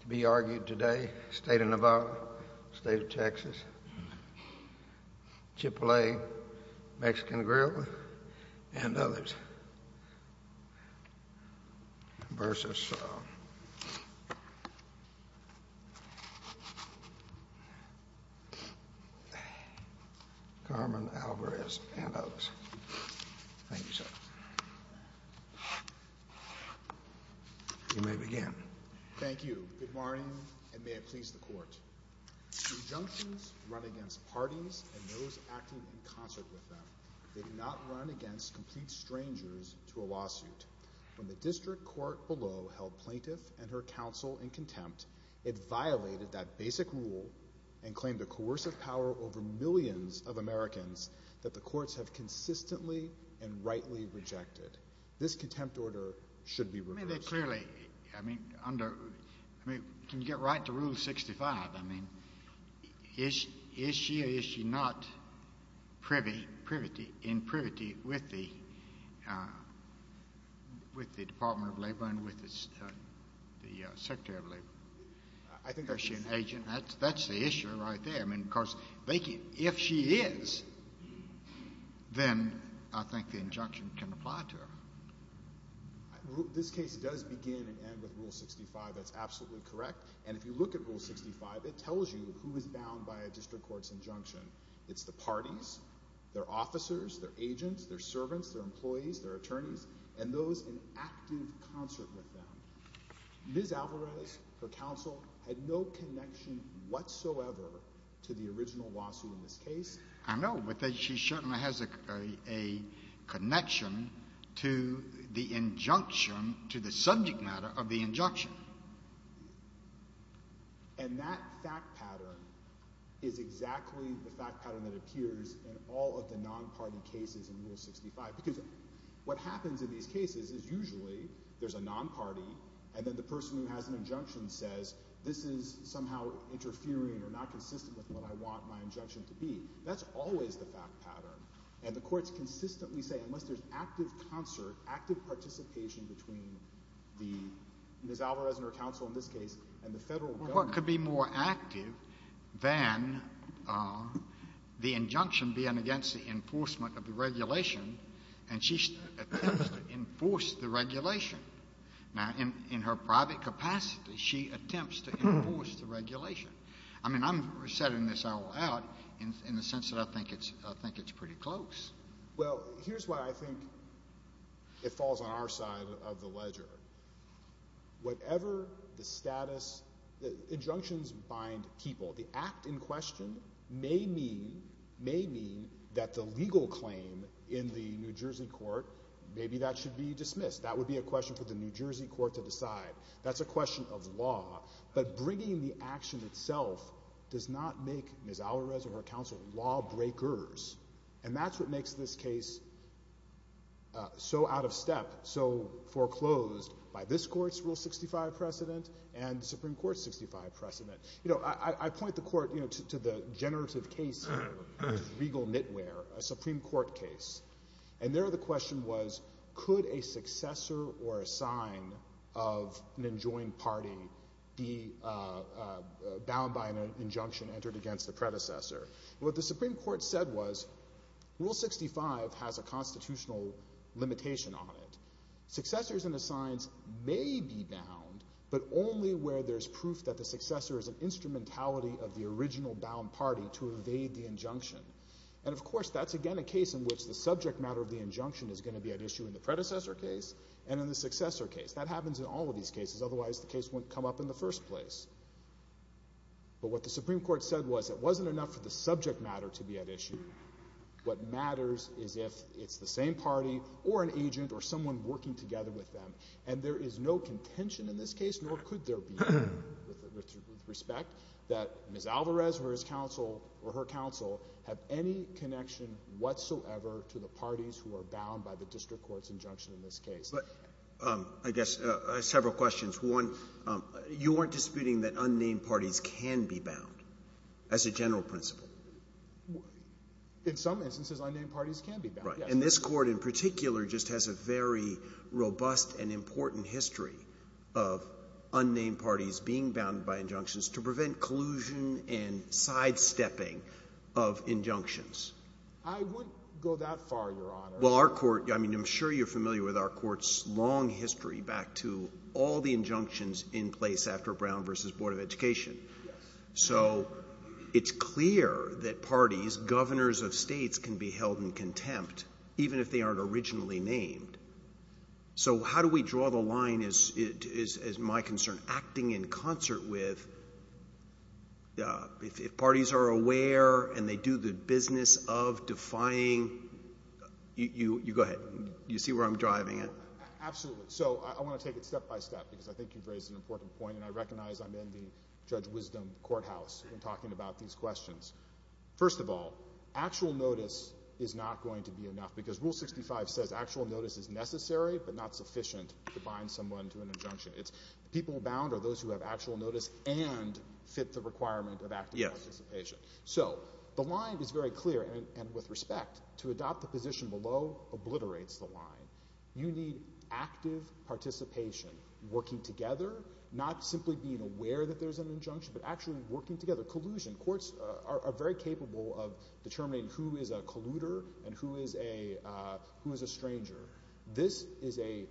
To be argued today, State of Nevada, State of Texas, Chipotle, Mexican Grill, and others v. Carmen Alvarez and others. Thank you, sir. You may begin. Thank you. Good morning, and may it please the Court. Conjunctions run against parties and those acting in concert with them. They do not run against complete strangers to a lawsuit. When the district court below held plaintiff and her counsel in contempt, it violated that basic rule and claimed a coercive power over millions of Americans that the courts have consistently and rightly rejected. This contempt order should be reversed. Can you get right to Rule 65? Is she or is she not in privity with the Department of Labor and with the Secretary of Labor? I think she is. Is she an agent? That's the issue right there. If she is, then I think the injunction can apply to her. This case does begin and end with Rule 65. That's absolutely correct. And if you look at Rule 65, it tells you who is bound by a district court's injunction. It's the parties, their officers, their agents, their servants, their employees, their attorneys, and those in active concert with them. Ms. Alvarez, her counsel, had no connection whatsoever to the original lawsuit in this case. I know, but she certainly has a connection to the injunction, to the subject matter of the injunction. And that fact pattern is exactly the fact pattern that appears in all of the non-party cases in Rule 65. Because what happens in these cases is usually there's a non-party and then the person who has an injunction says, this is somehow interfering or not consistent with what I want my injunction to be. That's always the fact pattern. And the courts consistently say unless there's active concert, active participation between Ms. Alvarez and her counsel in this case and the federal government. Well, what could be more active than the injunction being against the enforcement of the regulation and she attempts to enforce the regulation? Now, in her private capacity, she attempts to enforce the regulation. I mean, I'm setting this out in the sense that I think it's pretty close. Well, here's why I think it falls on our side of the ledger. Whatever the status, injunctions bind people. The act in question may mean that the legal claim in the New Jersey court, maybe that should be dismissed. That would be a question for the New Jersey court to decide. That's a question of law. But bringing the action itself does not make Ms. Alvarez and her counsel lawbreakers. And that's what makes this case so out of step, so foreclosed by this court's Rule 65 precedent and the Supreme Court's 65 precedent. You know, I point the court, you know, to the generative case here, legal knitwear, a Supreme Court case. And there the question was, could a successor or a sign of an enjoined party be bound by an injunction entered against the predecessor? What the Supreme Court said was Rule 65 has a constitutional limitation on it. Successors and assigns may be bound, but only where there's proof that the successor is an instrumentality of the original bound party to evade the injunction. And, of course, that's again a case in which the subject matter of the injunction is going to be at issue in the predecessor case and in the successor case. That happens in all of these cases. Otherwise, the case wouldn't come up in the first place. But what the Supreme Court said was it wasn't enough for the subject matter to be at issue. What matters is if it's the same party or an agent or someone working together with them. And there is no contention in this case, nor could there be, with respect, that Ms. Alvarez or her counsel have any connection whatsoever to the parties who are bound by the district court's injunction in this case. But I guess several questions. One, you weren't disputing that unnamed parties can be bound as a general principle. In some instances, unnamed parties can be bound. And this Court in particular just has a very robust and important history of unnamed parties being bound by injunctions to prevent collusion and sidestepping of injunctions. I wouldn't go that far, Your Honor. Well, our court – I mean, I'm sure you're familiar with our court's long history back to all the injunctions in place after Brown v. Board of Education. Yes. So it's clear that parties, governors of states, can be held in contempt even if they aren't originally named. So how do we draw the line, as my concern, acting in concert with if parties are aware and they do the business of defying – you go ahead. You see where I'm driving at? Absolutely. So I want to take it step by step because I think you've raised an important point, and I recognize I'm in the Judge Wisdom courthouse and talking about these questions. First of all, actual notice is not going to be enough because Rule 65 says actual notice is necessary but not sufficient to bind someone to an injunction. It's people bound are those who have actual notice and fit the requirement of active participation. Yes. So the line is very clear, and with respect, to adopt the position below obliterates the line. You need active participation, working together, not simply being aware that there's an injunction, but actually working together. Collusion – courts are very capable of determining who is a colluder and who is a stranger. This is a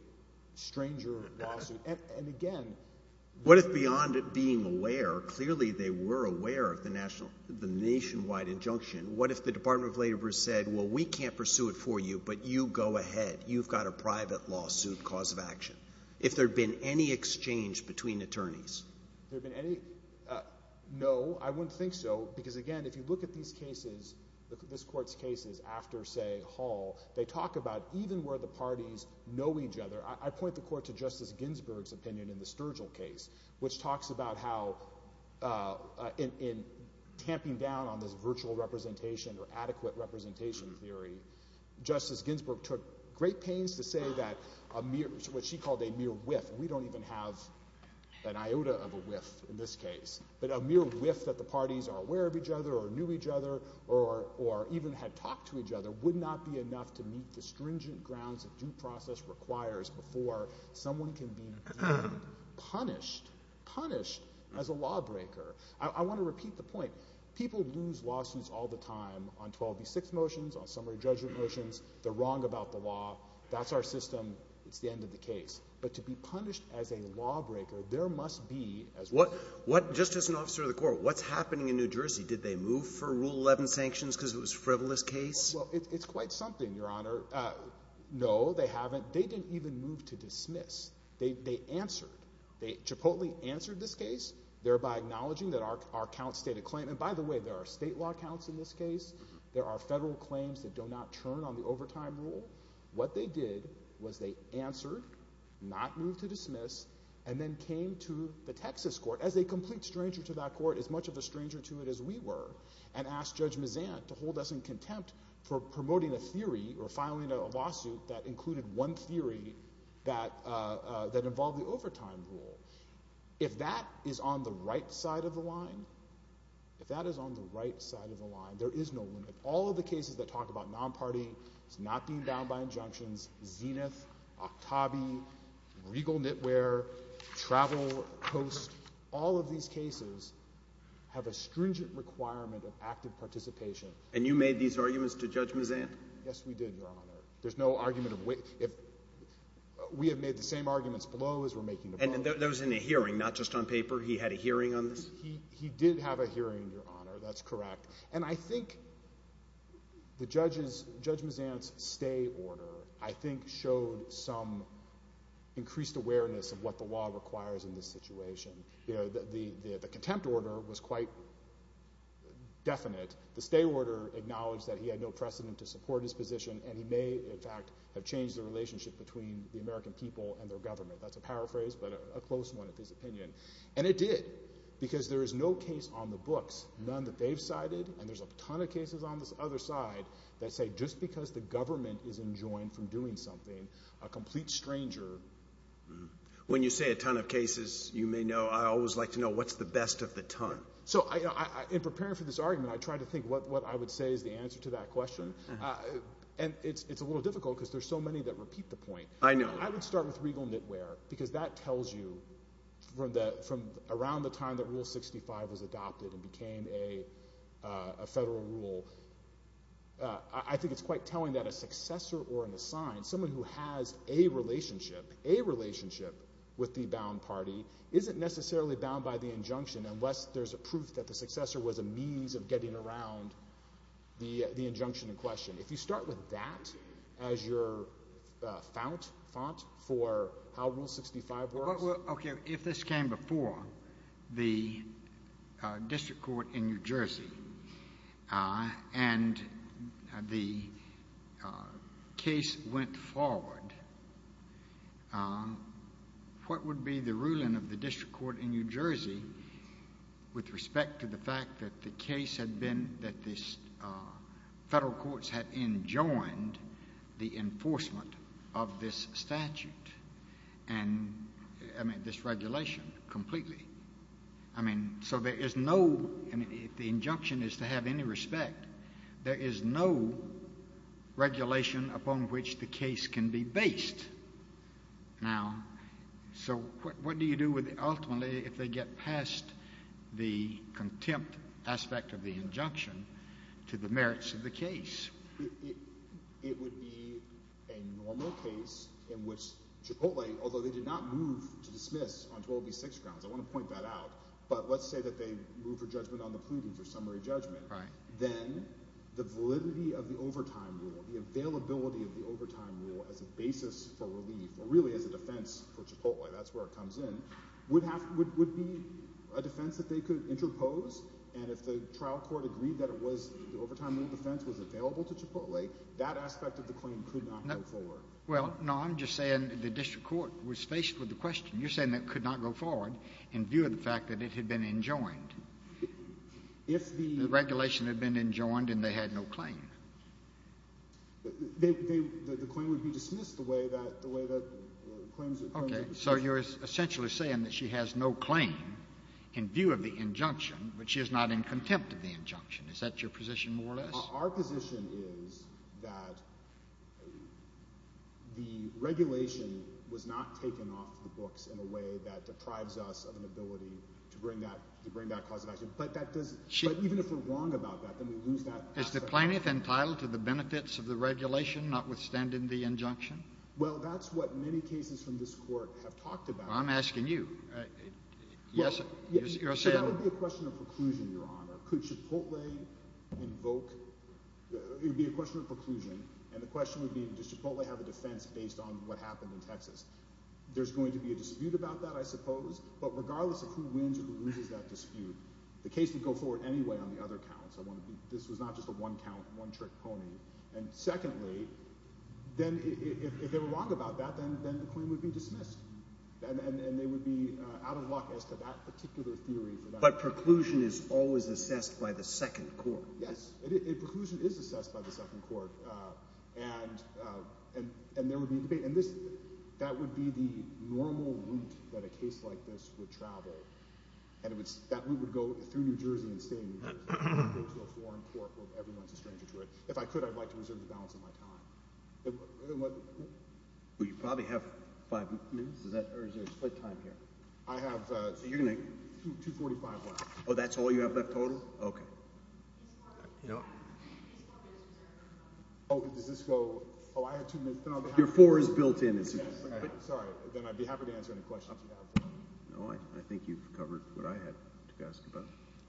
stranger lawsuit. And again – What if beyond it being aware, clearly they were aware of the nationwide injunction, what if the Department of Labor said, well, we can't pursue it for you, but you go ahead. You've got a private lawsuit cause of action. If there had been any exchange between attorneys. If there had been any – no, I wouldn't think so because, again, if you look at these cases, this court's cases after, say, Hall, they talk about even where the parties know each other. I point the court to Justice Ginsburg's opinion in the Sturgill case, which talks about how in tamping down on this virtual representation or adequate representation theory, Justice Ginsburg took great pains to say that a mere – what she called a mere whiff. We don't even have an iota of a whiff in this case. But a mere whiff that the parties are aware of each other or knew each other or even had talked to each other would not be enough to meet the stringent grounds that due process requires before someone can be punished, punished as a lawbreaker. I want to repeat the point. People lose lawsuits all the time on 12B6 motions, on summary judgment motions. They're wrong about the law. That's our system. It's the end of the case. But to be punished as a lawbreaker, there must be – What – just as an officer of the court, what's happening in New Jersey? Did they move for Rule 11 sanctions because it was a frivolous case? Well, it's quite something, Your Honor. No, they haven't. They didn't even move to dismiss. They answered. Chipotle answered this case, thereby acknowledging that our count stated claim – and by the way, there are state law counts in this case. There are federal claims that do not turn on the overtime rule. What they did was they answered, not moved to dismiss, and then came to the Texas court, as a complete stranger to that court, as much of a stranger to it as we were, and asked Judge Mazant to hold us in contempt for promoting a theory or filing a lawsuit that included one theory that involved the overtime rule. If that is on the right side of the line, if that is on the right side of the line, there is no limit. All of the cases that talk about non-partying, it's not being bound by injunctions, Zenith, Octavi, Regal Knitwear, Travel Post, all of these cases have a stringent requirement of active participation. And you made these arguments to Judge Mazant? Yes, we did, Your Honor. There's no argument of – we have made the same arguments below as we're making them now. And there was a hearing, not just on paper. He had a hearing on this? He did have a hearing, Your Honor. That's correct. And I think Judge Mazant's stay order, I think, showed some increased awareness of what the law requires in this situation. The contempt order was quite definite. The stay order acknowledged that he had no precedent to support his position, and he may, in fact, have changed the relationship between the American people and their government. That's a paraphrase, but a close one at this opinion. And it did because there is no case on the books, none that they've cited, and there's a ton of cases on the other side that say just because the government is enjoined from doing something, a complete stranger – When you say a ton of cases, you may know I always like to know what's the best of the ton. So in preparing for this argument, I tried to think what I would say is the answer to that question. And it's a little difficult because there's so many that repeat the point. I know. I would start with regal knitwear because that tells you from around the time that Rule 65 was adopted and became a federal rule, I think it's quite telling that a successor or an assigned, someone who has a relationship, a relationship with the bound party, isn't necessarily bound by the injunction unless there's a proof that the successor was a means of getting around the injunction in question. If you start with that as your font for how Rule 65 works – the enforcement of this statute and, I mean, this regulation completely. I mean, so there is no – I mean, if the injunction is to have any respect, there is no regulation upon which the case can be based. Now, so what do you do ultimately if they get past the contempt aspect of the injunction to the merits of the case? It would be a normal case in which Chipotle – although they did not move to dismiss on 12B6 grounds. I want to point that out. But let's say that they moved for judgment on the prudence or summary judgment. Right. Then the validity of the overtime rule, the availability of the overtime rule as a basis for relief or really as a defense for Chipotle – that's where it comes in – would be a defense that they could interpose. And if the trial court agreed that it was – the overtime rule defense was available to Chipotle, that aspect of the claim could not go forward. Well, no, I'm just saying the district court was faced with the question. You're saying that it could not go forward in view of the fact that it had been enjoined. If the – The regulation had been enjoined and they had no claim. They – the claim would be dismissed the way that – the way that claims – Okay. So you're essentially saying that she has no claim in view of the injunction, but she is not in contempt of the injunction. Is that your position more or less? Our position is that the regulation was not taken off the books in a way that deprives us of an ability to bring that – to bring that cause of action. But that doesn't – but even if we're wrong about that, then we lose that aspect. Is the plaintiff entitled to the benefits of the regulation, notwithstanding the injunction? Well, that's what many cases from this Court have talked about. I'm asking you. Yes, you're saying – That would be a question of preclusion, Your Honor. Could Chipotle invoke – it would be a question of preclusion. And the question would be does Chipotle have a defense based on what happened in Texas? There's going to be a dispute about that, I suppose. But regardless of who wins or who loses that dispute, the case would go forward anyway on the other counts. This was not just a one-count, one-trick pony. And secondly, then if they were wrong about that, then the claim would be dismissed. And they would be out of luck as to that particular theory. But preclusion is always assessed by the second court. Yes. Preclusion is assessed by the second court. And there would be a debate. And that would be the normal route that a case like this would travel. And that route would go through New Jersey and stay in New Jersey. It wouldn't go to a foreign court where everyone is a stranger to it. If I could, I'd like to reserve the balance of my time. Well, you probably have five minutes. Or is there a split time here? I have 245 left. Oh, that's all you have left total? Okay. Oh, does this go – oh, I have two minutes. Your four is built in. Sorry. Then I'd be happy to answer any questions you have. No, I think you've covered what I had to ask about.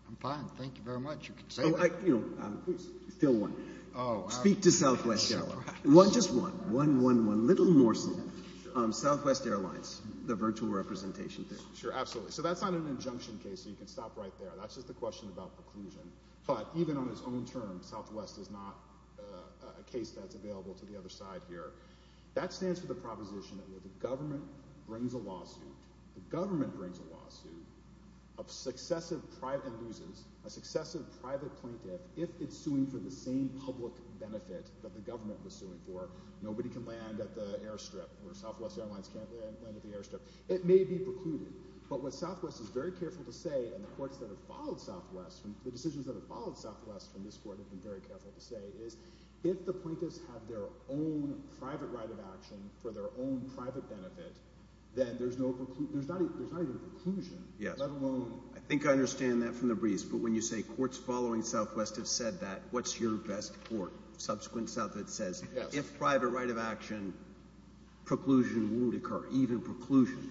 I'm fine. Thank you very much. You can say that. You know, I'm still one. Speak to Southwest Airlines. Just one. One, one, one. A little more so. Southwest Airlines, the virtual representation thing. Sure, absolutely. So that's not an injunction case, so you can stop right there. That's just a question about preclusion. But even on its own terms, Southwest is not a case that's available to the other side here. That stands for the proposition that when the government brings a lawsuit, the government brings a lawsuit and loses a successive private plaintiff if it's suing for the same public benefit that the government was suing for. Nobody can land at the airstrip, or Southwest Airlines can't land at the airstrip. It may be precluded. But what Southwest is very careful to say, and the courts that have followed Southwest, the decisions that have followed Southwest from this court have been very careful to say, is if the plaintiffs have their own private right of action for their own private benefit, then there's no preclusion. There's not even a preclusion, let alone – Yes. I think I understand that from the briefs. But when you say courts following Southwest have said that, what's your best court? Subsequent Southwest says if private right of action, preclusion won't occur, even preclusion.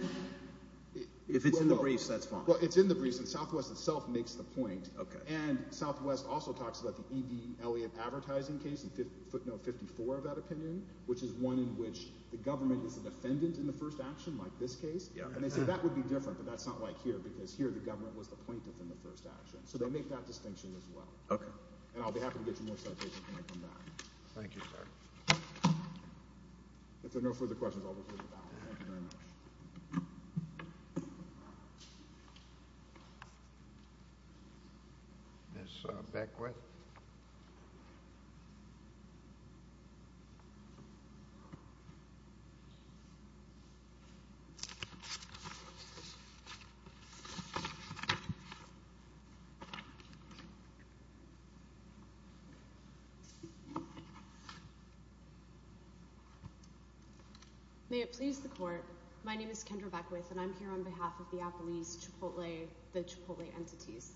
If it's in the briefs, that's fine. Well, it's in the briefs, and Southwest itself makes the point. And Southwest also talks about the E.D. Eliot advertising case, footnote 54 of that opinion, which is one in which the government is a defendant in the first action like this case. And they say that would be different, but that's not like here because here the government was the plaintiff in the first action. So they make that distinction as well. Okay. And I'll be happy to get you more citations when I come back. Thank you, sir. If there are no further questions, I'll reclude the balance. Thank you very much. Ms. Beckwith. Thank you. May it please the court. My name is Kendra Beckwith, and I'm here on behalf of the Apple East Chipotle, the Chipotle entities.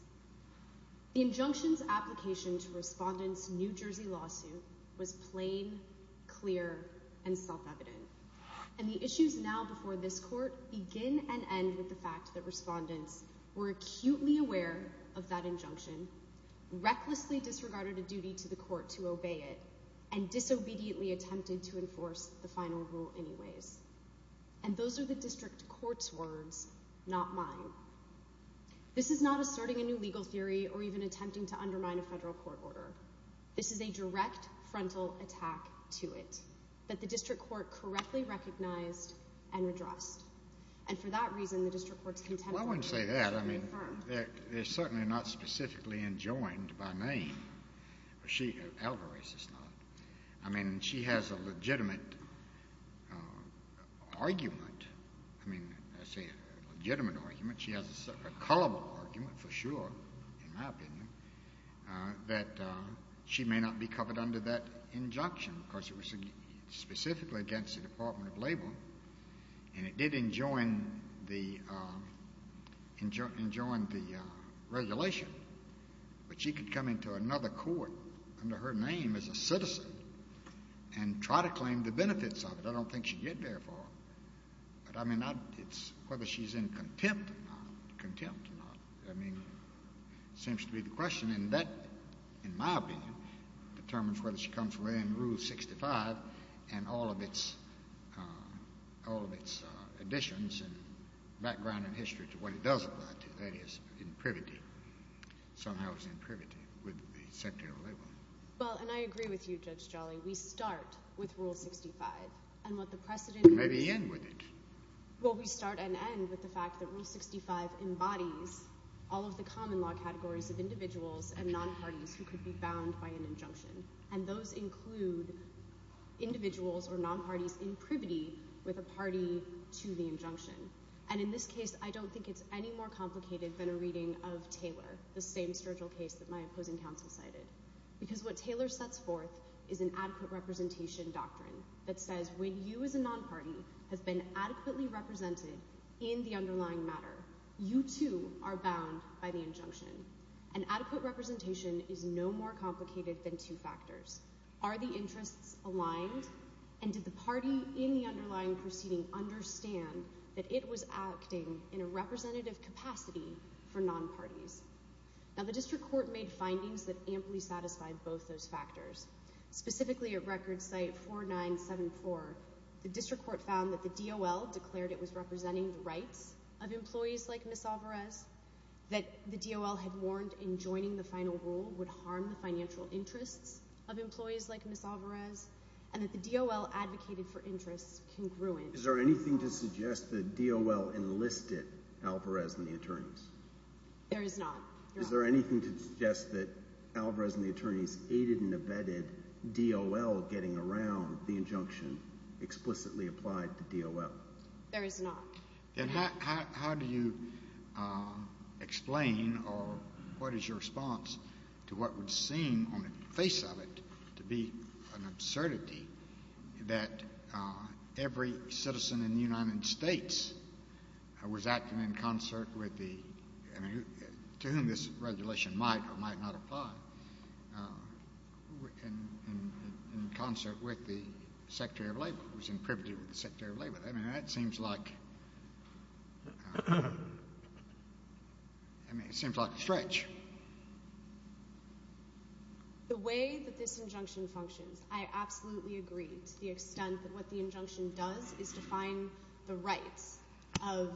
The injunction's application to Respondent's New Jersey lawsuit was plain, clear, and self-evident. And the issues now before this court begin and end with the fact that Respondent's were acutely aware of that injunction, recklessly disregarded a duty to the court to obey it, and disobediently attempted to enforce the final rule anyways. And those are the district court's words, not mine. This is not asserting a new legal theory or even attempting to undermine a federal court order. This is a direct frontal attack to it that the district court correctly recognized and addressed. And for that reason, the district court's contempt of it is very firm. Well, I wouldn't say that. I mean, it's certainly not specifically enjoined by me. Alvarez is not. I mean, she has a legitimate argument. I mean, I say a legitimate argument. She has a colorful argument, for sure, in my opinion, that she may not be covered under that injunction. Of course, it was specifically against the Department of Labor, and it did enjoin the regulation. But she could come into another court under her name as a citizen and try to claim the benefits of it. I don't think she'd get there far. But, I mean, whether she's in contempt or not, contempt or not, I mean, seems to be the question. And that, in my opinion, determines whether she comes within Rule 65 and all of its additions and background and history to what it does apply to, that is, in privity, somehow it's in privity with the Secretary of Labor. Well, and I agree with you, Judge Jolly. We start with Rule 65. Maybe end with it. Well, we start and end with the fact that Rule 65 embodies all of the common law categories of individuals and nonparties who could be bound by an injunction. And those include individuals or nonparties in privity with a party to the injunction. And in this case, I don't think it's any more complicated than a reading of Taylor, the same Sturgill case that my opposing counsel cited. Because what Taylor sets forth is an adequate representation doctrine that says when you as a nonparty have been adequately represented in the underlying matter, you, too, are bound by the injunction. And adequate representation is no more complicated than two factors. Are the interests aligned? And did the party in the underlying proceeding understand that it was acting in a representative capacity for nonparties? Now, the District Court made findings that amply satisfied both those factors. Specifically, at Record Site 4974, the District Court found that the DOL declared it was representing the rights of employees like Ms. Alvarez, that the DOL had warned in joining the final rule would harm the financial interests of employees like Ms. Alvarez, and that the DOL advocated for interests congruent. Is there anything to suggest the DOL enlisted Alvarez and the attorneys? There is not. Is there anything to suggest that Alvarez and the attorneys aided and abetted DOL getting around the injunction explicitly applied to DOL? There is not. Then how do you explain or what is your response to what would seem on the face of it to be an absurdity that every citizen in the United States was acting in concert with the – to whom this regulation might or might not apply – in concert with the Secretary of Labor, was in privity with the Secretary of Labor? I mean, that seems like – I mean, it seems like a stretch. The way that this injunction functions, I absolutely agree to the extent that what the injunction does is define the rights of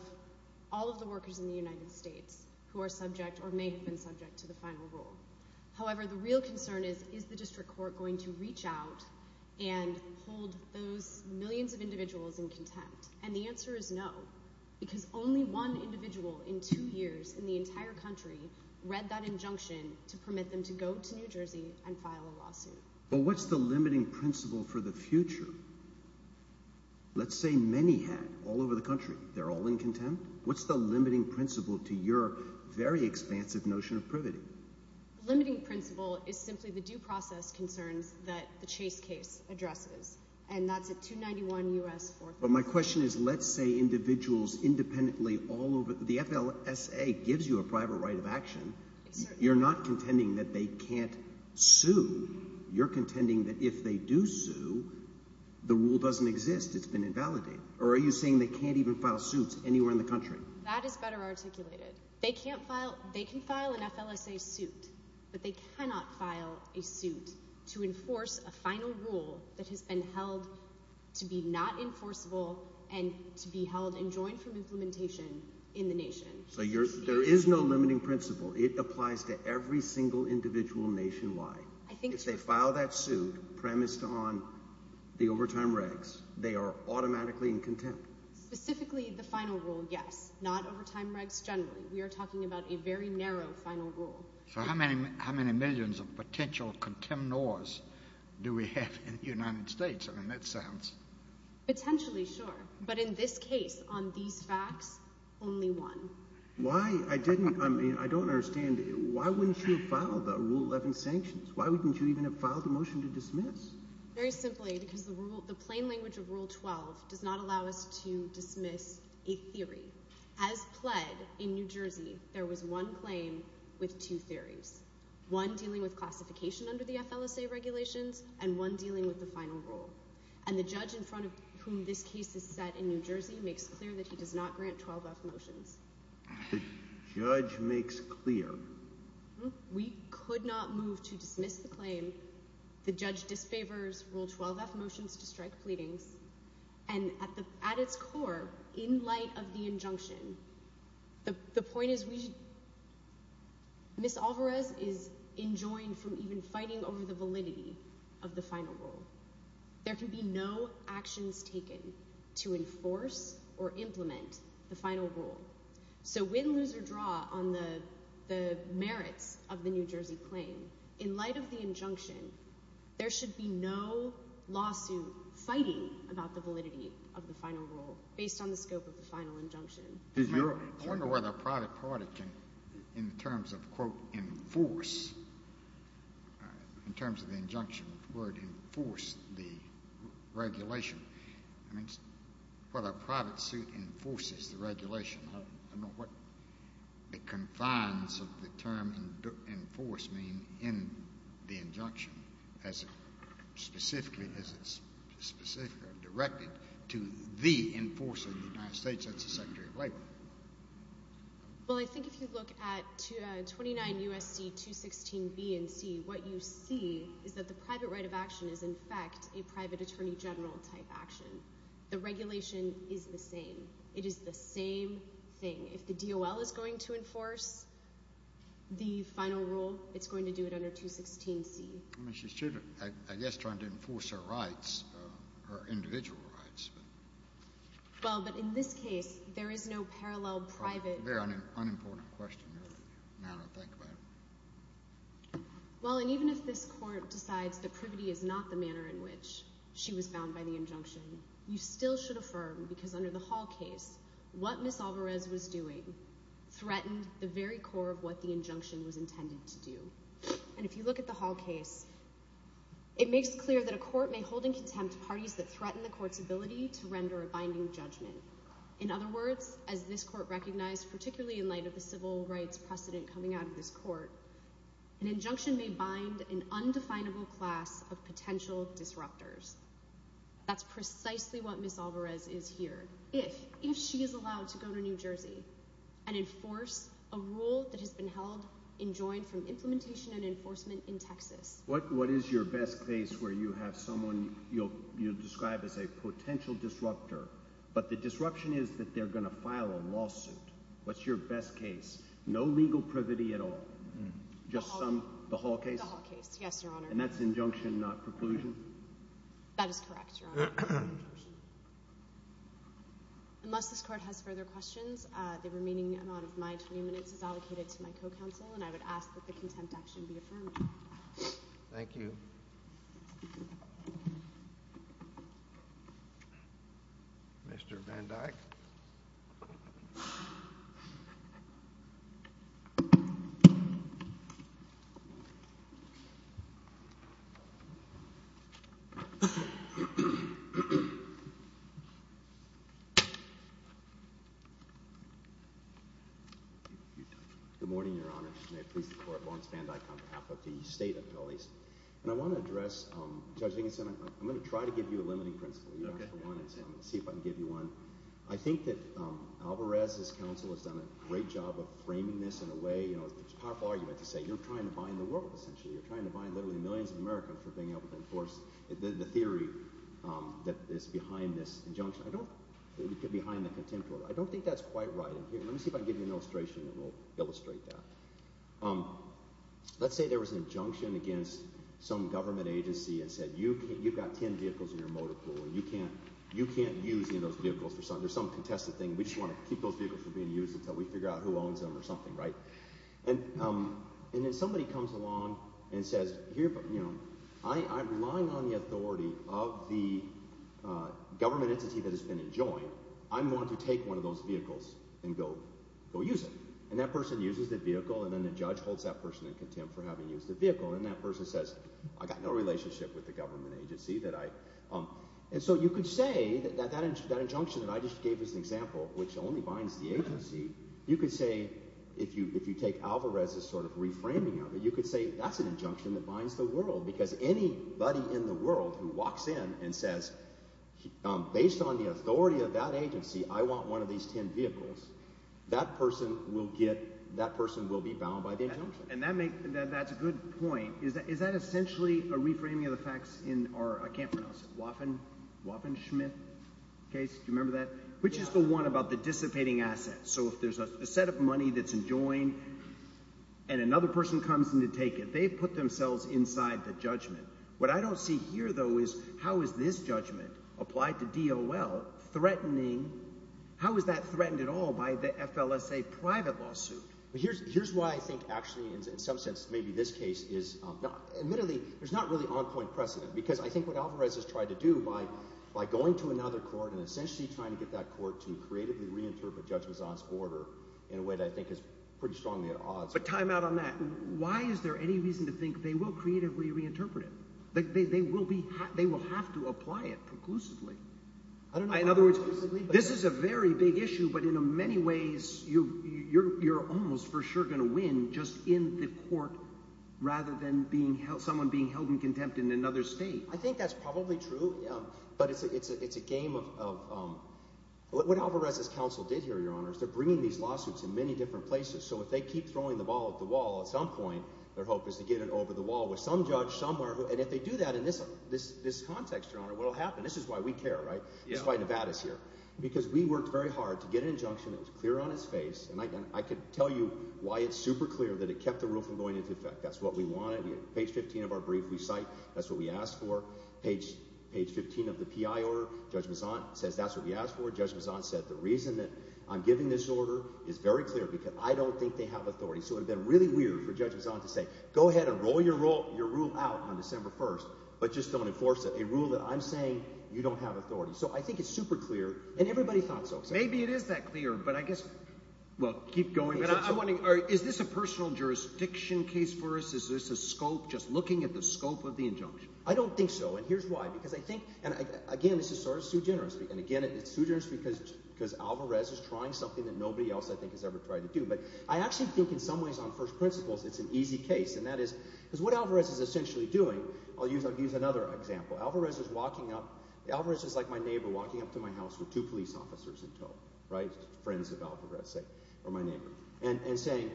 all of the workers in the United States who are subject or may have been subject to the final rule. However, the real concern is, is the district court going to reach out and hold those millions of individuals in contempt? And the answer is no because only one individual in two years in the entire country read that injunction to permit them to go to New Jersey and file a lawsuit. Well, what's the limiting principle for the future? Let's say many had all over the country. They're all in contempt. What's the limiting principle to your very expansive notion of privity? The limiting principle is simply the due process concerns that the Chase case addresses, and that's at 291 U.S. 434. But my question is let's say individuals independently all over – the FLSA gives you a private right of action. You're not contending that they can't sue. You're contending that if they do sue, the rule doesn't exist. It's been invalidated. Or are you saying they can't even file suits anywhere in the country? That is better articulated. They can file an FLSA suit, but they cannot file a suit to enforce a final rule that has been held to be not enforceable and to be held enjoined from implementation in the nation. So there is no limiting principle. It applies to every single individual nationwide. If they file that suit premised on the overtime regs, they are automatically in contempt. Specifically the final rule, yes, not overtime regs generally. We are talking about a very narrow final rule. So how many millions of potential contemnors do we have in the United States? I mean that sounds – Potentially, sure. But in this case, on these facts, only one. I don't understand. Why wouldn't you file the Rule 11 sanctions? Why wouldn't you even have filed a motion to dismiss? Very simply, because the plain language of Rule 12 does not allow us to dismiss a theory. As pled in New Jersey, there was one claim with two theories, one dealing with classification under the FLSA regulations and one dealing with the final rule. And the judge in front of whom this case is set in New Jersey makes clear that he does not grant 12-F motions. The judge makes clear? We could not move to dismiss the claim. The judge disfavors Rule 12-F motions to strike pleadings. And at its core, in light of the injunction, the point is we – Ms. Alvarez is enjoined from even fighting over the validity of the final rule. There can be no actions taken to enforce or implement the final rule. So win, lose, or draw on the merits of the New Jersey claim, in light of the injunction, there should be no lawsuit fighting about the validity of the final rule based on the scope of the final injunction. I wonder whether a private party can, in terms of, quote, enforce, in terms of the injunction, the word enforce the regulation. I mean, whether a private suit enforces the regulation. I don't know what the confines of the term enforce mean in the injunction as it's specifically directed to the enforcer of the United States. That's the Secretary of Labor. Well, I think if you look at 29 U.S.C. 216B and C, what you see is that the private right of action is in fact a private attorney general type action. The regulation is the same. It is the same thing. If the DOL is going to enforce the final rule, it's going to do it under 216C. I guess trying to enforce her rights, her individual rights. Well, but in this case, there is no parallel private. Very unimportant question. I don't think about it. Well, and even if this court decides that privity is not the manner in which she was bound by the injunction, you still should affirm, because under the Hall case, what Ms. Alvarez was doing threatened the very core of what the injunction was intended to do. And if you look at the Hall case, it makes clear that a court may hold in contempt parties that threaten the court's ability to render a binding judgment. In other words, as this court recognized, particularly in light of the civil rights precedent coming out of this court, an injunction may bind an undefinable class of potential disruptors. That's precisely what Ms. Alvarez is here. If she is allowed to go to New Jersey and enforce a rule that has been held, enjoined from implementation and enforcement in Texas. What is your best case where you have someone you'll describe as a potential disruptor, but the disruption is that they're going to file a lawsuit? What's your best case? No legal privity at all? The Hall case. Yes, Your Honor. And that's injunction, not preclusion? That is correct, Your Honor. Unless this court has further questions, the remaining amount of my 20 minutes is allocated to my co-counsel, and I would ask that the contempt action be affirmed. Thank you. Mr. Van Dyck. Good morning, Your Honor. May it please the court. Lawrence Van Dyck on behalf of the State of Philadelphia. And I want to address – Judge Higginson, I'm going to try to give you a limiting principle. You asked for one, and so I'm going to see if I can give you one. I think that Alvarez's counsel has done a great job of framing this in a way – it's a powerful argument to say you're trying to bind the world essentially. You're trying to bind literally millions of Americans for being able to enforce the theory that is behind this injunction. I don't – behind the contempt order. I don't think that's quite right. Let me see if I can give you an illustration and we'll illustrate that. Let's say there was an injunction against some government agency and said you've got ten vehicles in your motor pool and you can't use any of those vehicles. There's some contested thing. We just want to keep those vehicles from being used until we figure out who owns them or something, right? And then somebody comes along and says here – I'm relying on the authority of the government entity that has been enjoined. I'm going to take one of those vehicles and go use it. And that person uses the vehicle and then the judge holds that person in contempt for having used the vehicle. And that person says I've got no relationship with the government agency that I – and so you could say that that injunction that I just gave as an example, which only binds the agency, you could say if you take Alvarez's sort of reframing of it, you could say that's an injunction that binds the world because anybody in the world who walks in and says based on the authority of that agency, I want one of these ten vehicles, that person will get – that person will be bound by the injunction. And that's a good point. Is that essentially a reframing of the facts in our – I can't pronounce it – Waffen – Waffenschmitt case? Do you remember that? Which is the one about the dissipating assets? So if there's a set of money that's enjoined and another person comes in to take it, they've put themselves inside the judgment. What I don't see here though is how is this judgment applied to DOL threatening – how is that threatened at all by the FLSA private lawsuit? Here's why I think actually in some sense maybe this case is not – admittedly, there's not really on-point precedent because I think what Alvarez has tried to do by going to another court and essentially trying to get that court to creatively reinterpret Judge Mazzot's order in a way that I think is pretty strongly at odds. But time out on that. Why is there any reason to think they will creatively reinterpret it? They will be – they will have to apply it preclusively. I don't know. In other words, this is a very big issue, but in many ways you're almost for sure going to win just in the court rather than someone being held in contempt in another state. I think that's probably true, but it's a game of – what Alvarez's counsel did here, Your Honor, is they're bringing these lawsuits in many different places. So if they keep throwing the ball at the wall, at some point their hope is to get it over the wall with some judge somewhere. And if they do that in this context, Your Honor, what will happen? And this is why we care, right? This is why Nevada is here. Because we worked very hard to get an injunction that was clear on its face, and I can tell you why it's super clear that it kept the rule from going into effect. That's what we wanted. Page 15 of our brief we cite. That's what we asked for. Page 15 of the PI order, Judge Mazzot says that's what we asked for. Judge Mazzot said the reason that I'm giving this order is very clear because I don't think they have authority. So it would have been really weird for Judge Mazzot to say go ahead and roll your rule out on December 1st but just don't enforce it, a rule that I'm saying you don't have authority. So I think it's super clear, and everybody thought so. Maybe it is that clear, but I guess – well, keep going. But I'm wondering, is this a personal jurisdiction case for us? Is this a scope, just looking at the scope of the injunction? I don't think so, and here's why. Because I think – and again, this is sort of sui generis. And again, it's sui generis because Alvarez is trying something that nobody else I think has ever tried to do. But I actually think in some ways on first principles it's an easy case, and that is – Here's another example. Alvarez is walking up. Alvarez is like my neighbor walking up to my house with two police officers in tow, right? Friends of Alvarez, say, or my neighbor, and saying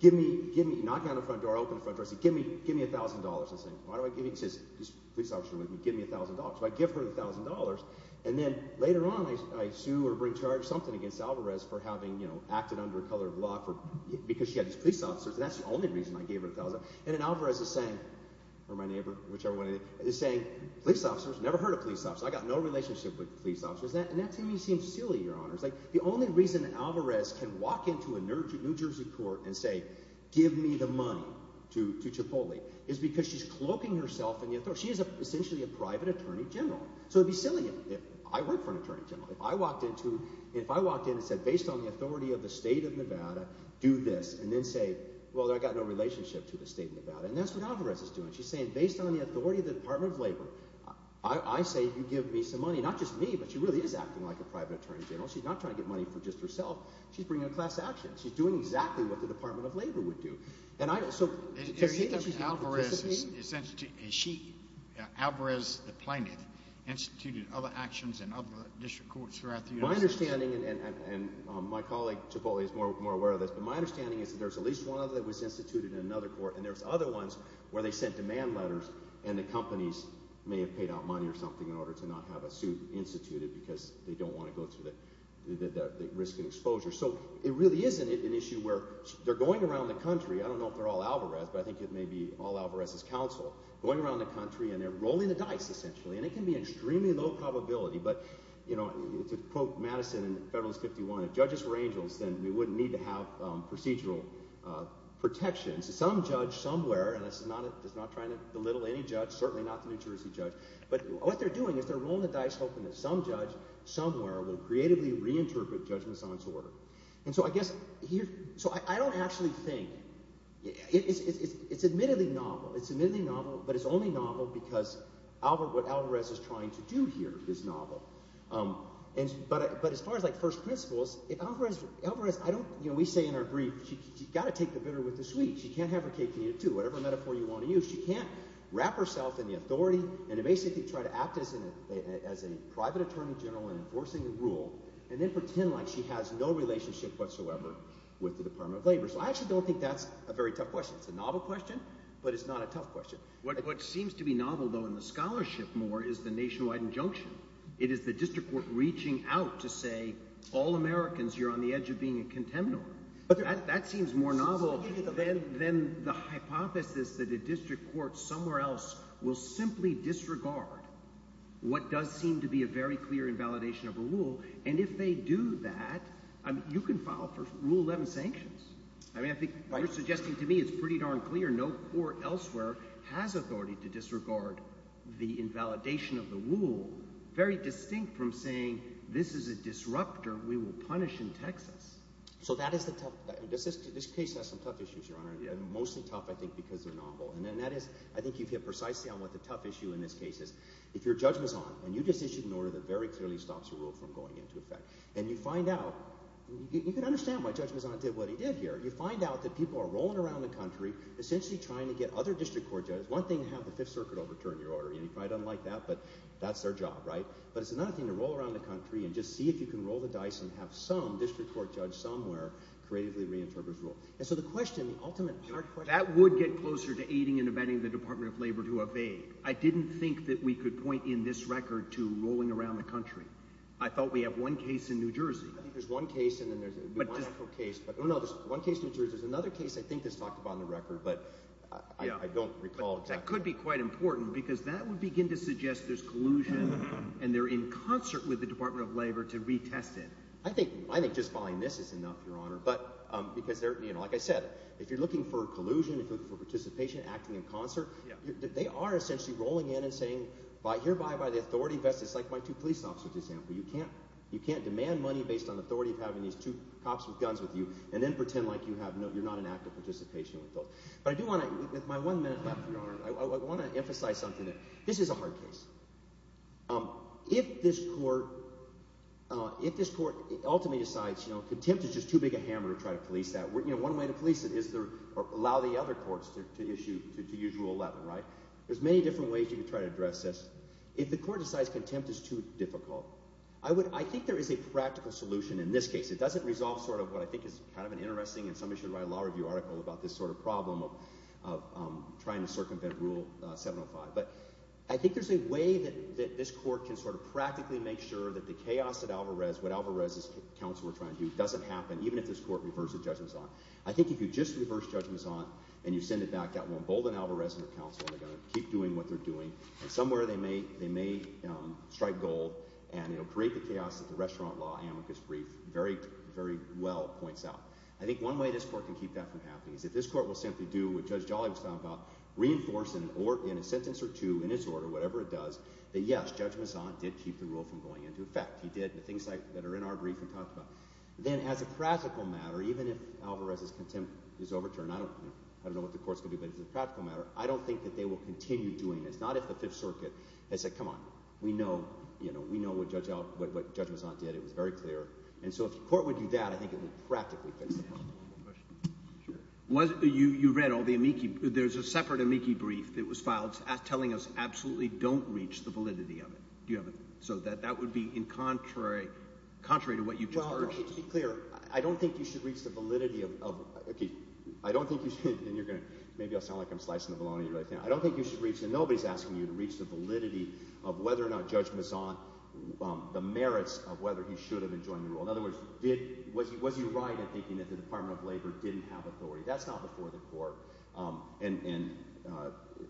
give me – knocking on the front door, opening the front door. I said give me $1,000. He says, these police officers are with me. Give me $1,000. So I give her the $1,000, and then later on I sue or bring charge something against Alvarez for having acted under a color of law because she had these police officers, and that's the only reason I gave her the $1,000. And then Alvarez is saying – or my neighbor, whichever one it is – is saying police officers? I've never heard of police officers. I've got no relationship with police officers. And that to me seems silly, Your Honors. The only reason Alvarez can walk into a New Jersey court and say give me the money to Cipolli is because she's cloaking herself in the authority – she is essentially a private attorney general. So it would be silly if – I work for an attorney general. If I walked into – if I walked in and said based on the authority of the state of Nevada, do this, and then say, well, I've got no relationship to the state of Nevada. And that's what Alvarez is doing. She's saying based on the authority of the Department of Labor, I say you give me some money. Not just me, but she really is acting like a private attorney general. She's not trying to get money for just herself. She's bringing a class action. She's doing exactly what the Department of Labor would do. And I also – Is Alvarez – is she, Alvarez the plaintiff, instituted other actions in other district courts throughout the United States? My understanding, and my colleague Cipolli is more aware of this, but my understanding is that there's at least one other that was instituted in another court, and there's other ones where they sent demand letters and the companies may have paid out money or something in order to not have a suit instituted because they don't want to go through the risk of exposure. So it really is an issue where they're going around the country. I don't know if they're all Alvarez, but I think it may be all Alvarez's counsel going around the country, and they're rolling the dice essentially. And it can be extremely low probability, but to quote Madison in Federalist 51, if judges were angels, then we wouldn't need to have procedural protections. Some judge somewhere – and this is not trying to belittle any judge, certainly not the New Jersey judge – but what they're doing is they're rolling the dice hoping that some judge somewhere will creatively reinterpret judgments on disorder. And so I guess here – so I don't actually think – it's admittedly novel. It's admittedly novel, but it's only novel because what Alvarez is trying to do here is novel. But as far as first principles, if Alvarez – we say in our brief she's got to take the bitter with the sweet. She can't have her cake and eat it too. Whatever metaphor you want to use, she can't wrap herself in the authority and basically try to act as a private attorney general in enforcing the rule and then pretend like she has no relationship whatsoever with the Department of Labor. So I actually don't think that's a very tough question. It's a novel question, but it's not a tough question. What seems to be novel though in the scholarship more is the nationwide injunction. It is the district court reaching out to say all Americans, you're on the edge of being a contemnor. That seems more novel than the hypothesis that a district court somewhere else will simply disregard what does seem to be a very clear invalidation of a rule. And if they do that, you can file for Rule 11 sanctions. I mean I think what you're suggesting to me is pretty darn clear. No court elsewhere has authority to disregard the invalidation of the rule, very distinct from saying this is a disruptor we will punish in Texas. So that is the tough – this case has some tough issues, Your Honor, and mostly tough I think because they're novel. And that is – I think you've hit precisely on what the tough issue in this case is. If you're Judge Mazzon and you just issued an order that very clearly stops a rule from going into effect and you find out – you can understand why Judge Mazzon did what he did here. You find out that people are rolling around the country essentially trying to get other district court judges. It's one thing to have the Fifth Circuit overturn your order. You probably don't like that, but that's their job, right? But it's another thing to roll around the country and just see if you can roll the dice and have some district court judge somewhere creatively reinterpret a rule. And so the question, the ultimate hard question – That would get closer to aiding and abetting the Department of Labor to evade. I didn't think that we could point in this record to rolling around the country. I thought we have one case in New Jersey. There's one case in New Jersey. There's another case I think that's talked about on the record, but I don't recall exactly. That could be quite important because that would begin to suggest there's collusion and they're in concert with the Department of Labor to retest it. I think just following this is enough, Your Honor, because they're – like I said, if you're looking for collusion, if you're looking for participation, acting in concert, they are essentially rolling in and saying hereby by the authority vested – it's like my two police officers, for example. You can't demand money based on authority of having these two cops with guns with you and then pretend like you're not in active participation with those. But I do want to – with my one minute left, Your Honor, I want to emphasize something there. This is a hard case. If this court ultimately decides contempt is just too big a hammer to try to police that, one way to police it is to allow the other courts to issue – to use Rule 11. There's many different ways you can try to address this. If the court decides contempt is too difficult, I think there is a practical solution in this case. It doesn't resolve sort of what I think is kind of an interesting – and somebody should write a law review article about this sort of problem of trying to circumvent Rule 705. But I think there's a way that this court can sort of practically make sure that the chaos at Alvarez, what Alvarez's counsel are trying to do, doesn't happen even if this court reverses judgments on it. I think if you just reverse judgments on it and you send it back, that will embolden Alvarez and her counsel, and they're going to keep doing what they're doing. And somewhere they may strike gold, and it will create the chaos that the restaurant law amicus brief very, very well points out. I think one way this court can keep that from happening is if this court will simply do what Judge Jolly was talking about, reinforce in a sentence or two, in his order, whatever it does, that yes, Judge Mezant did keep the rule from going into effect. He did the things that are in our brief and talked about. Then as a practical matter, even if Alvarez's contempt is overturned – I don't know what the court's going to do, but as a practical matter, I don't think that they will continue doing this. Not if the Fifth Circuit has said, come on, we know what Judge Mezant did. It was very clear. And so if the court would do that, I think it would practically fix the problem. You read all the amici – there's a separate amici brief that was filed telling us absolutely don't reach the validity of it. So that would be contrary to what you've just heard. Well, to be clear, I don't think you should reach the validity of – okay, I don't think you should – and you're going to – maybe I'll sound like I'm slicing the bologna. I don't think you should reach – and nobody's asking you to reach the validity of whether or not Judge Mezant – the merits of whether he should have enjoined the rule. In other words, was he right in thinking that the Department of Labor didn't have authority? That's not before the court, and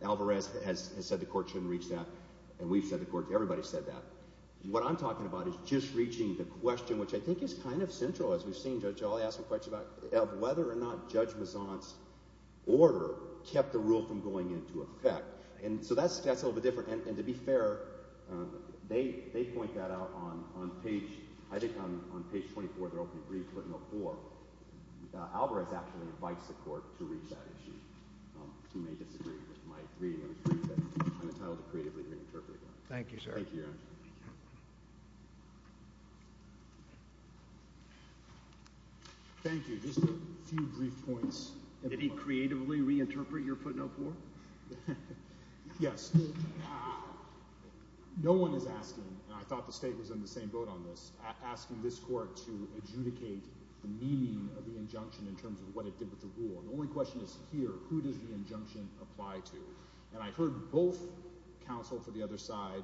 Alvarez has said the court shouldn't reach that, and we've said the court – everybody's said that. What I'm talking about is just reaching the question, which I think is kind of central, as we've seen, Judge. I'll ask a question about whether or not Judge Mezant's order kept the rule from going into effect. And so that's a little bit different. And to be fair, they point that out on page – I think on page 24 of their opening brief, footnote four. Alvarez actually invites the court to reach that issue. You may disagree with my reading of his brief, but I'm entitled to creatively reinterpret that. Thank you, sir. Thank you, Your Honor. Thank you. Just a few brief points. Did he creatively reinterpret your footnote four? Yes. No one is asking – and I thought the state was in the same boat on this – asking this court to adjudicate the meaning of the injunction in terms of what it did with the rule. The only question is here, who does the injunction apply to? And I heard both counsel for the other side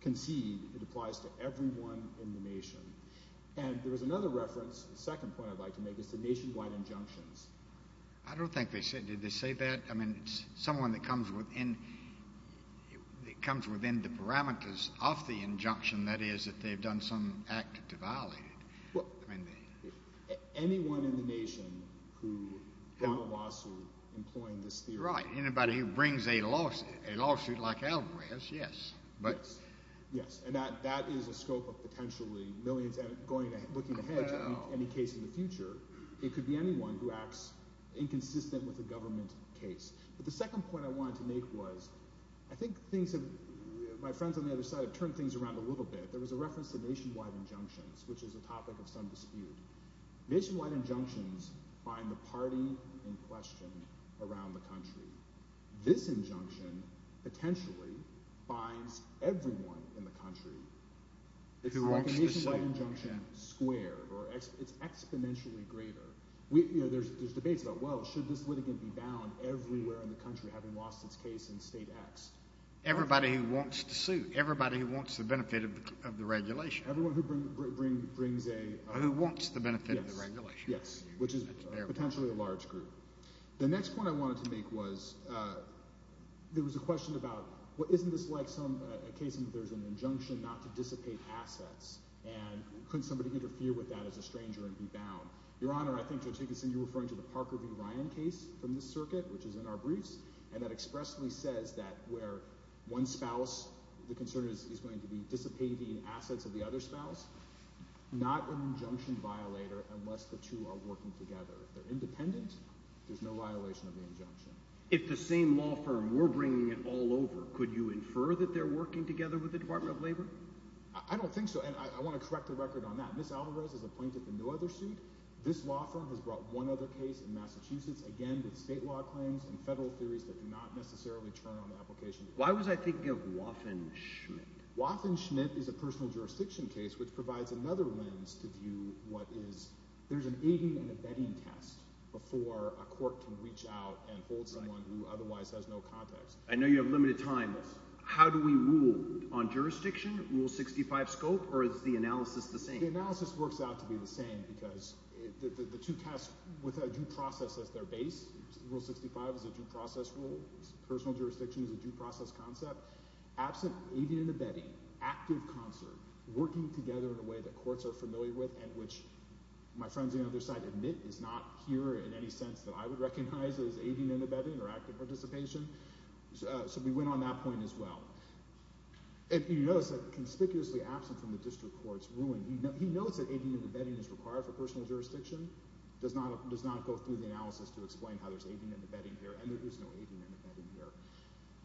concede it applies to everyone in the nation. And there was another reference, a second point I'd like to make, as to nationwide injunctions. I don't think they – did they say that? I mean, someone that comes within – that comes within the parameters of the injunction, that is, that they've done some act to violate it. Anyone in the nation who filed a lawsuit employing this theory. Right. Anybody who brings a lawsuit like Alvarez, yes. Yes. And that is a scope of potentially millions looking ahead to any case in the future. It could be anyone who acts inconsistent with a government case. But the second point I wanted to make was I think things have – my friends on the other side have turned things around a little bit. There was a reference to nationwide injunctions, which is a topic of some dispute. Nationwide injunctions bind the party in question around the country. This injunction potentially binds everyone in the country. It's a nationwide injunction squared, or it's exponentially greater. There's debates about, well, should this litigant be bound everywhere in the country having lost its case in state acts? Everybody who wants to sue, everybody who wants the benefit of the regulation. Everyone who brings a – Who wants the benefit of the regulation. Yes, which is potentially a large group. The next point I wanted to make was there was a question about isn't this like a case in which there's an injunction not to dissipate assets? And couldn't somebody interfere with that as a stranger and be bound? Your Honor, I think Judge Higginson, you're referring to the Parker v. Ryan case from this circuit, which is in our briefs, and that expressly says that where one spouse, the concern is going to be dissipating assets of the other spouse, not an injunction violator unless the two are working together. If they're independent, there's no violation of the injunction. If the same law firm were bringing it all over, could you infer that they're working together with the Department of Labor? I don't think so, and I want to correct the record on that. Ms. Alvarez has appointed the no other suit. This law firm has brought one other case in Massachusetts, again, with state law claims and federal theories that do not necessarily turn on the application. Why was I thinking of Waffen-Schmidt? Waffen-Schmidt is a personal jurisdiction case which provides another lens to view what is – aiding and abetting test before a court can reach out and hold someone who otherwise has no context. I know you have limited time. How do we rule on jurisdiction, Rule 65 scope, or is the analysis the same? The analysis works out to be the same because the two tests with a due process as their base. Rule 65 is a due process rule. Personal jurisdiction is a due process concept. Absent aiding and abetting, active concern, working together in a way that courts are familiar with and which my friends on the other side admit is not here in any sense that I would recognize as aiding and abetting or active participation. So we went on that point as well. And you notice that conspicuously absent from the district court's ruling, he notes that aiding and abetting is required for personal jurisdiction, does not go through the analysis to explain how there's aiding and abetting here, and there is no aiding and abetting here.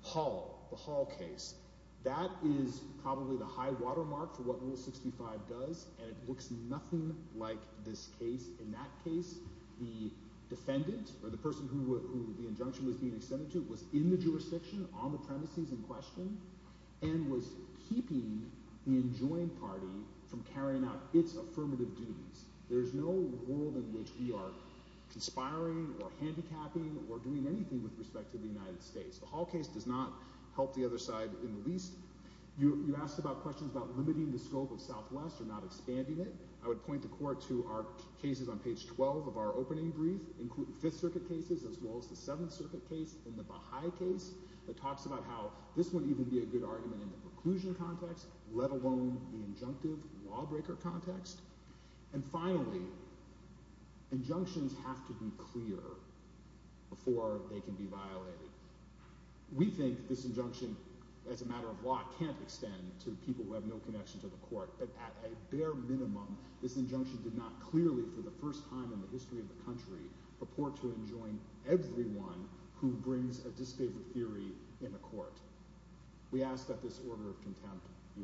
Hall, the Hall case, that is probably the high watermark for what Rule 65 does, and it looks nothing like this case. In that case, the defendant, or the person who the injunction was being extended to, was in the jurisdiction, on the premises in question, and was keeping the enjoined party from carrying out its affirmative duties. There is no world in which we are conspiring or handicapping or doing anything with respect to the United States. The Hall case does not help the other side in the least. You asked about questions about limiting the scope of Southwest or not expanding it. I would point the court to our cases on page 12 of our opening brief, including Fifth Circuit cases as well as the Seventh Circuit case and the Baha'i case, that talks about how this wouldn't even be a good argument in the preclusion context, let alone the injunctive lawbreaker context. And finally, injunctions have to be clear before they can be violated. We think this injunction, as a matter of law, can't extend to people who have no connection to the court, but at a bare minimum, this injunction did not clearly, for the first time in the history of the country, purport to enjoin everyone who brings a disfavored theory in a court. We ask that this order of contempt be reversed. Thank you. Thank you.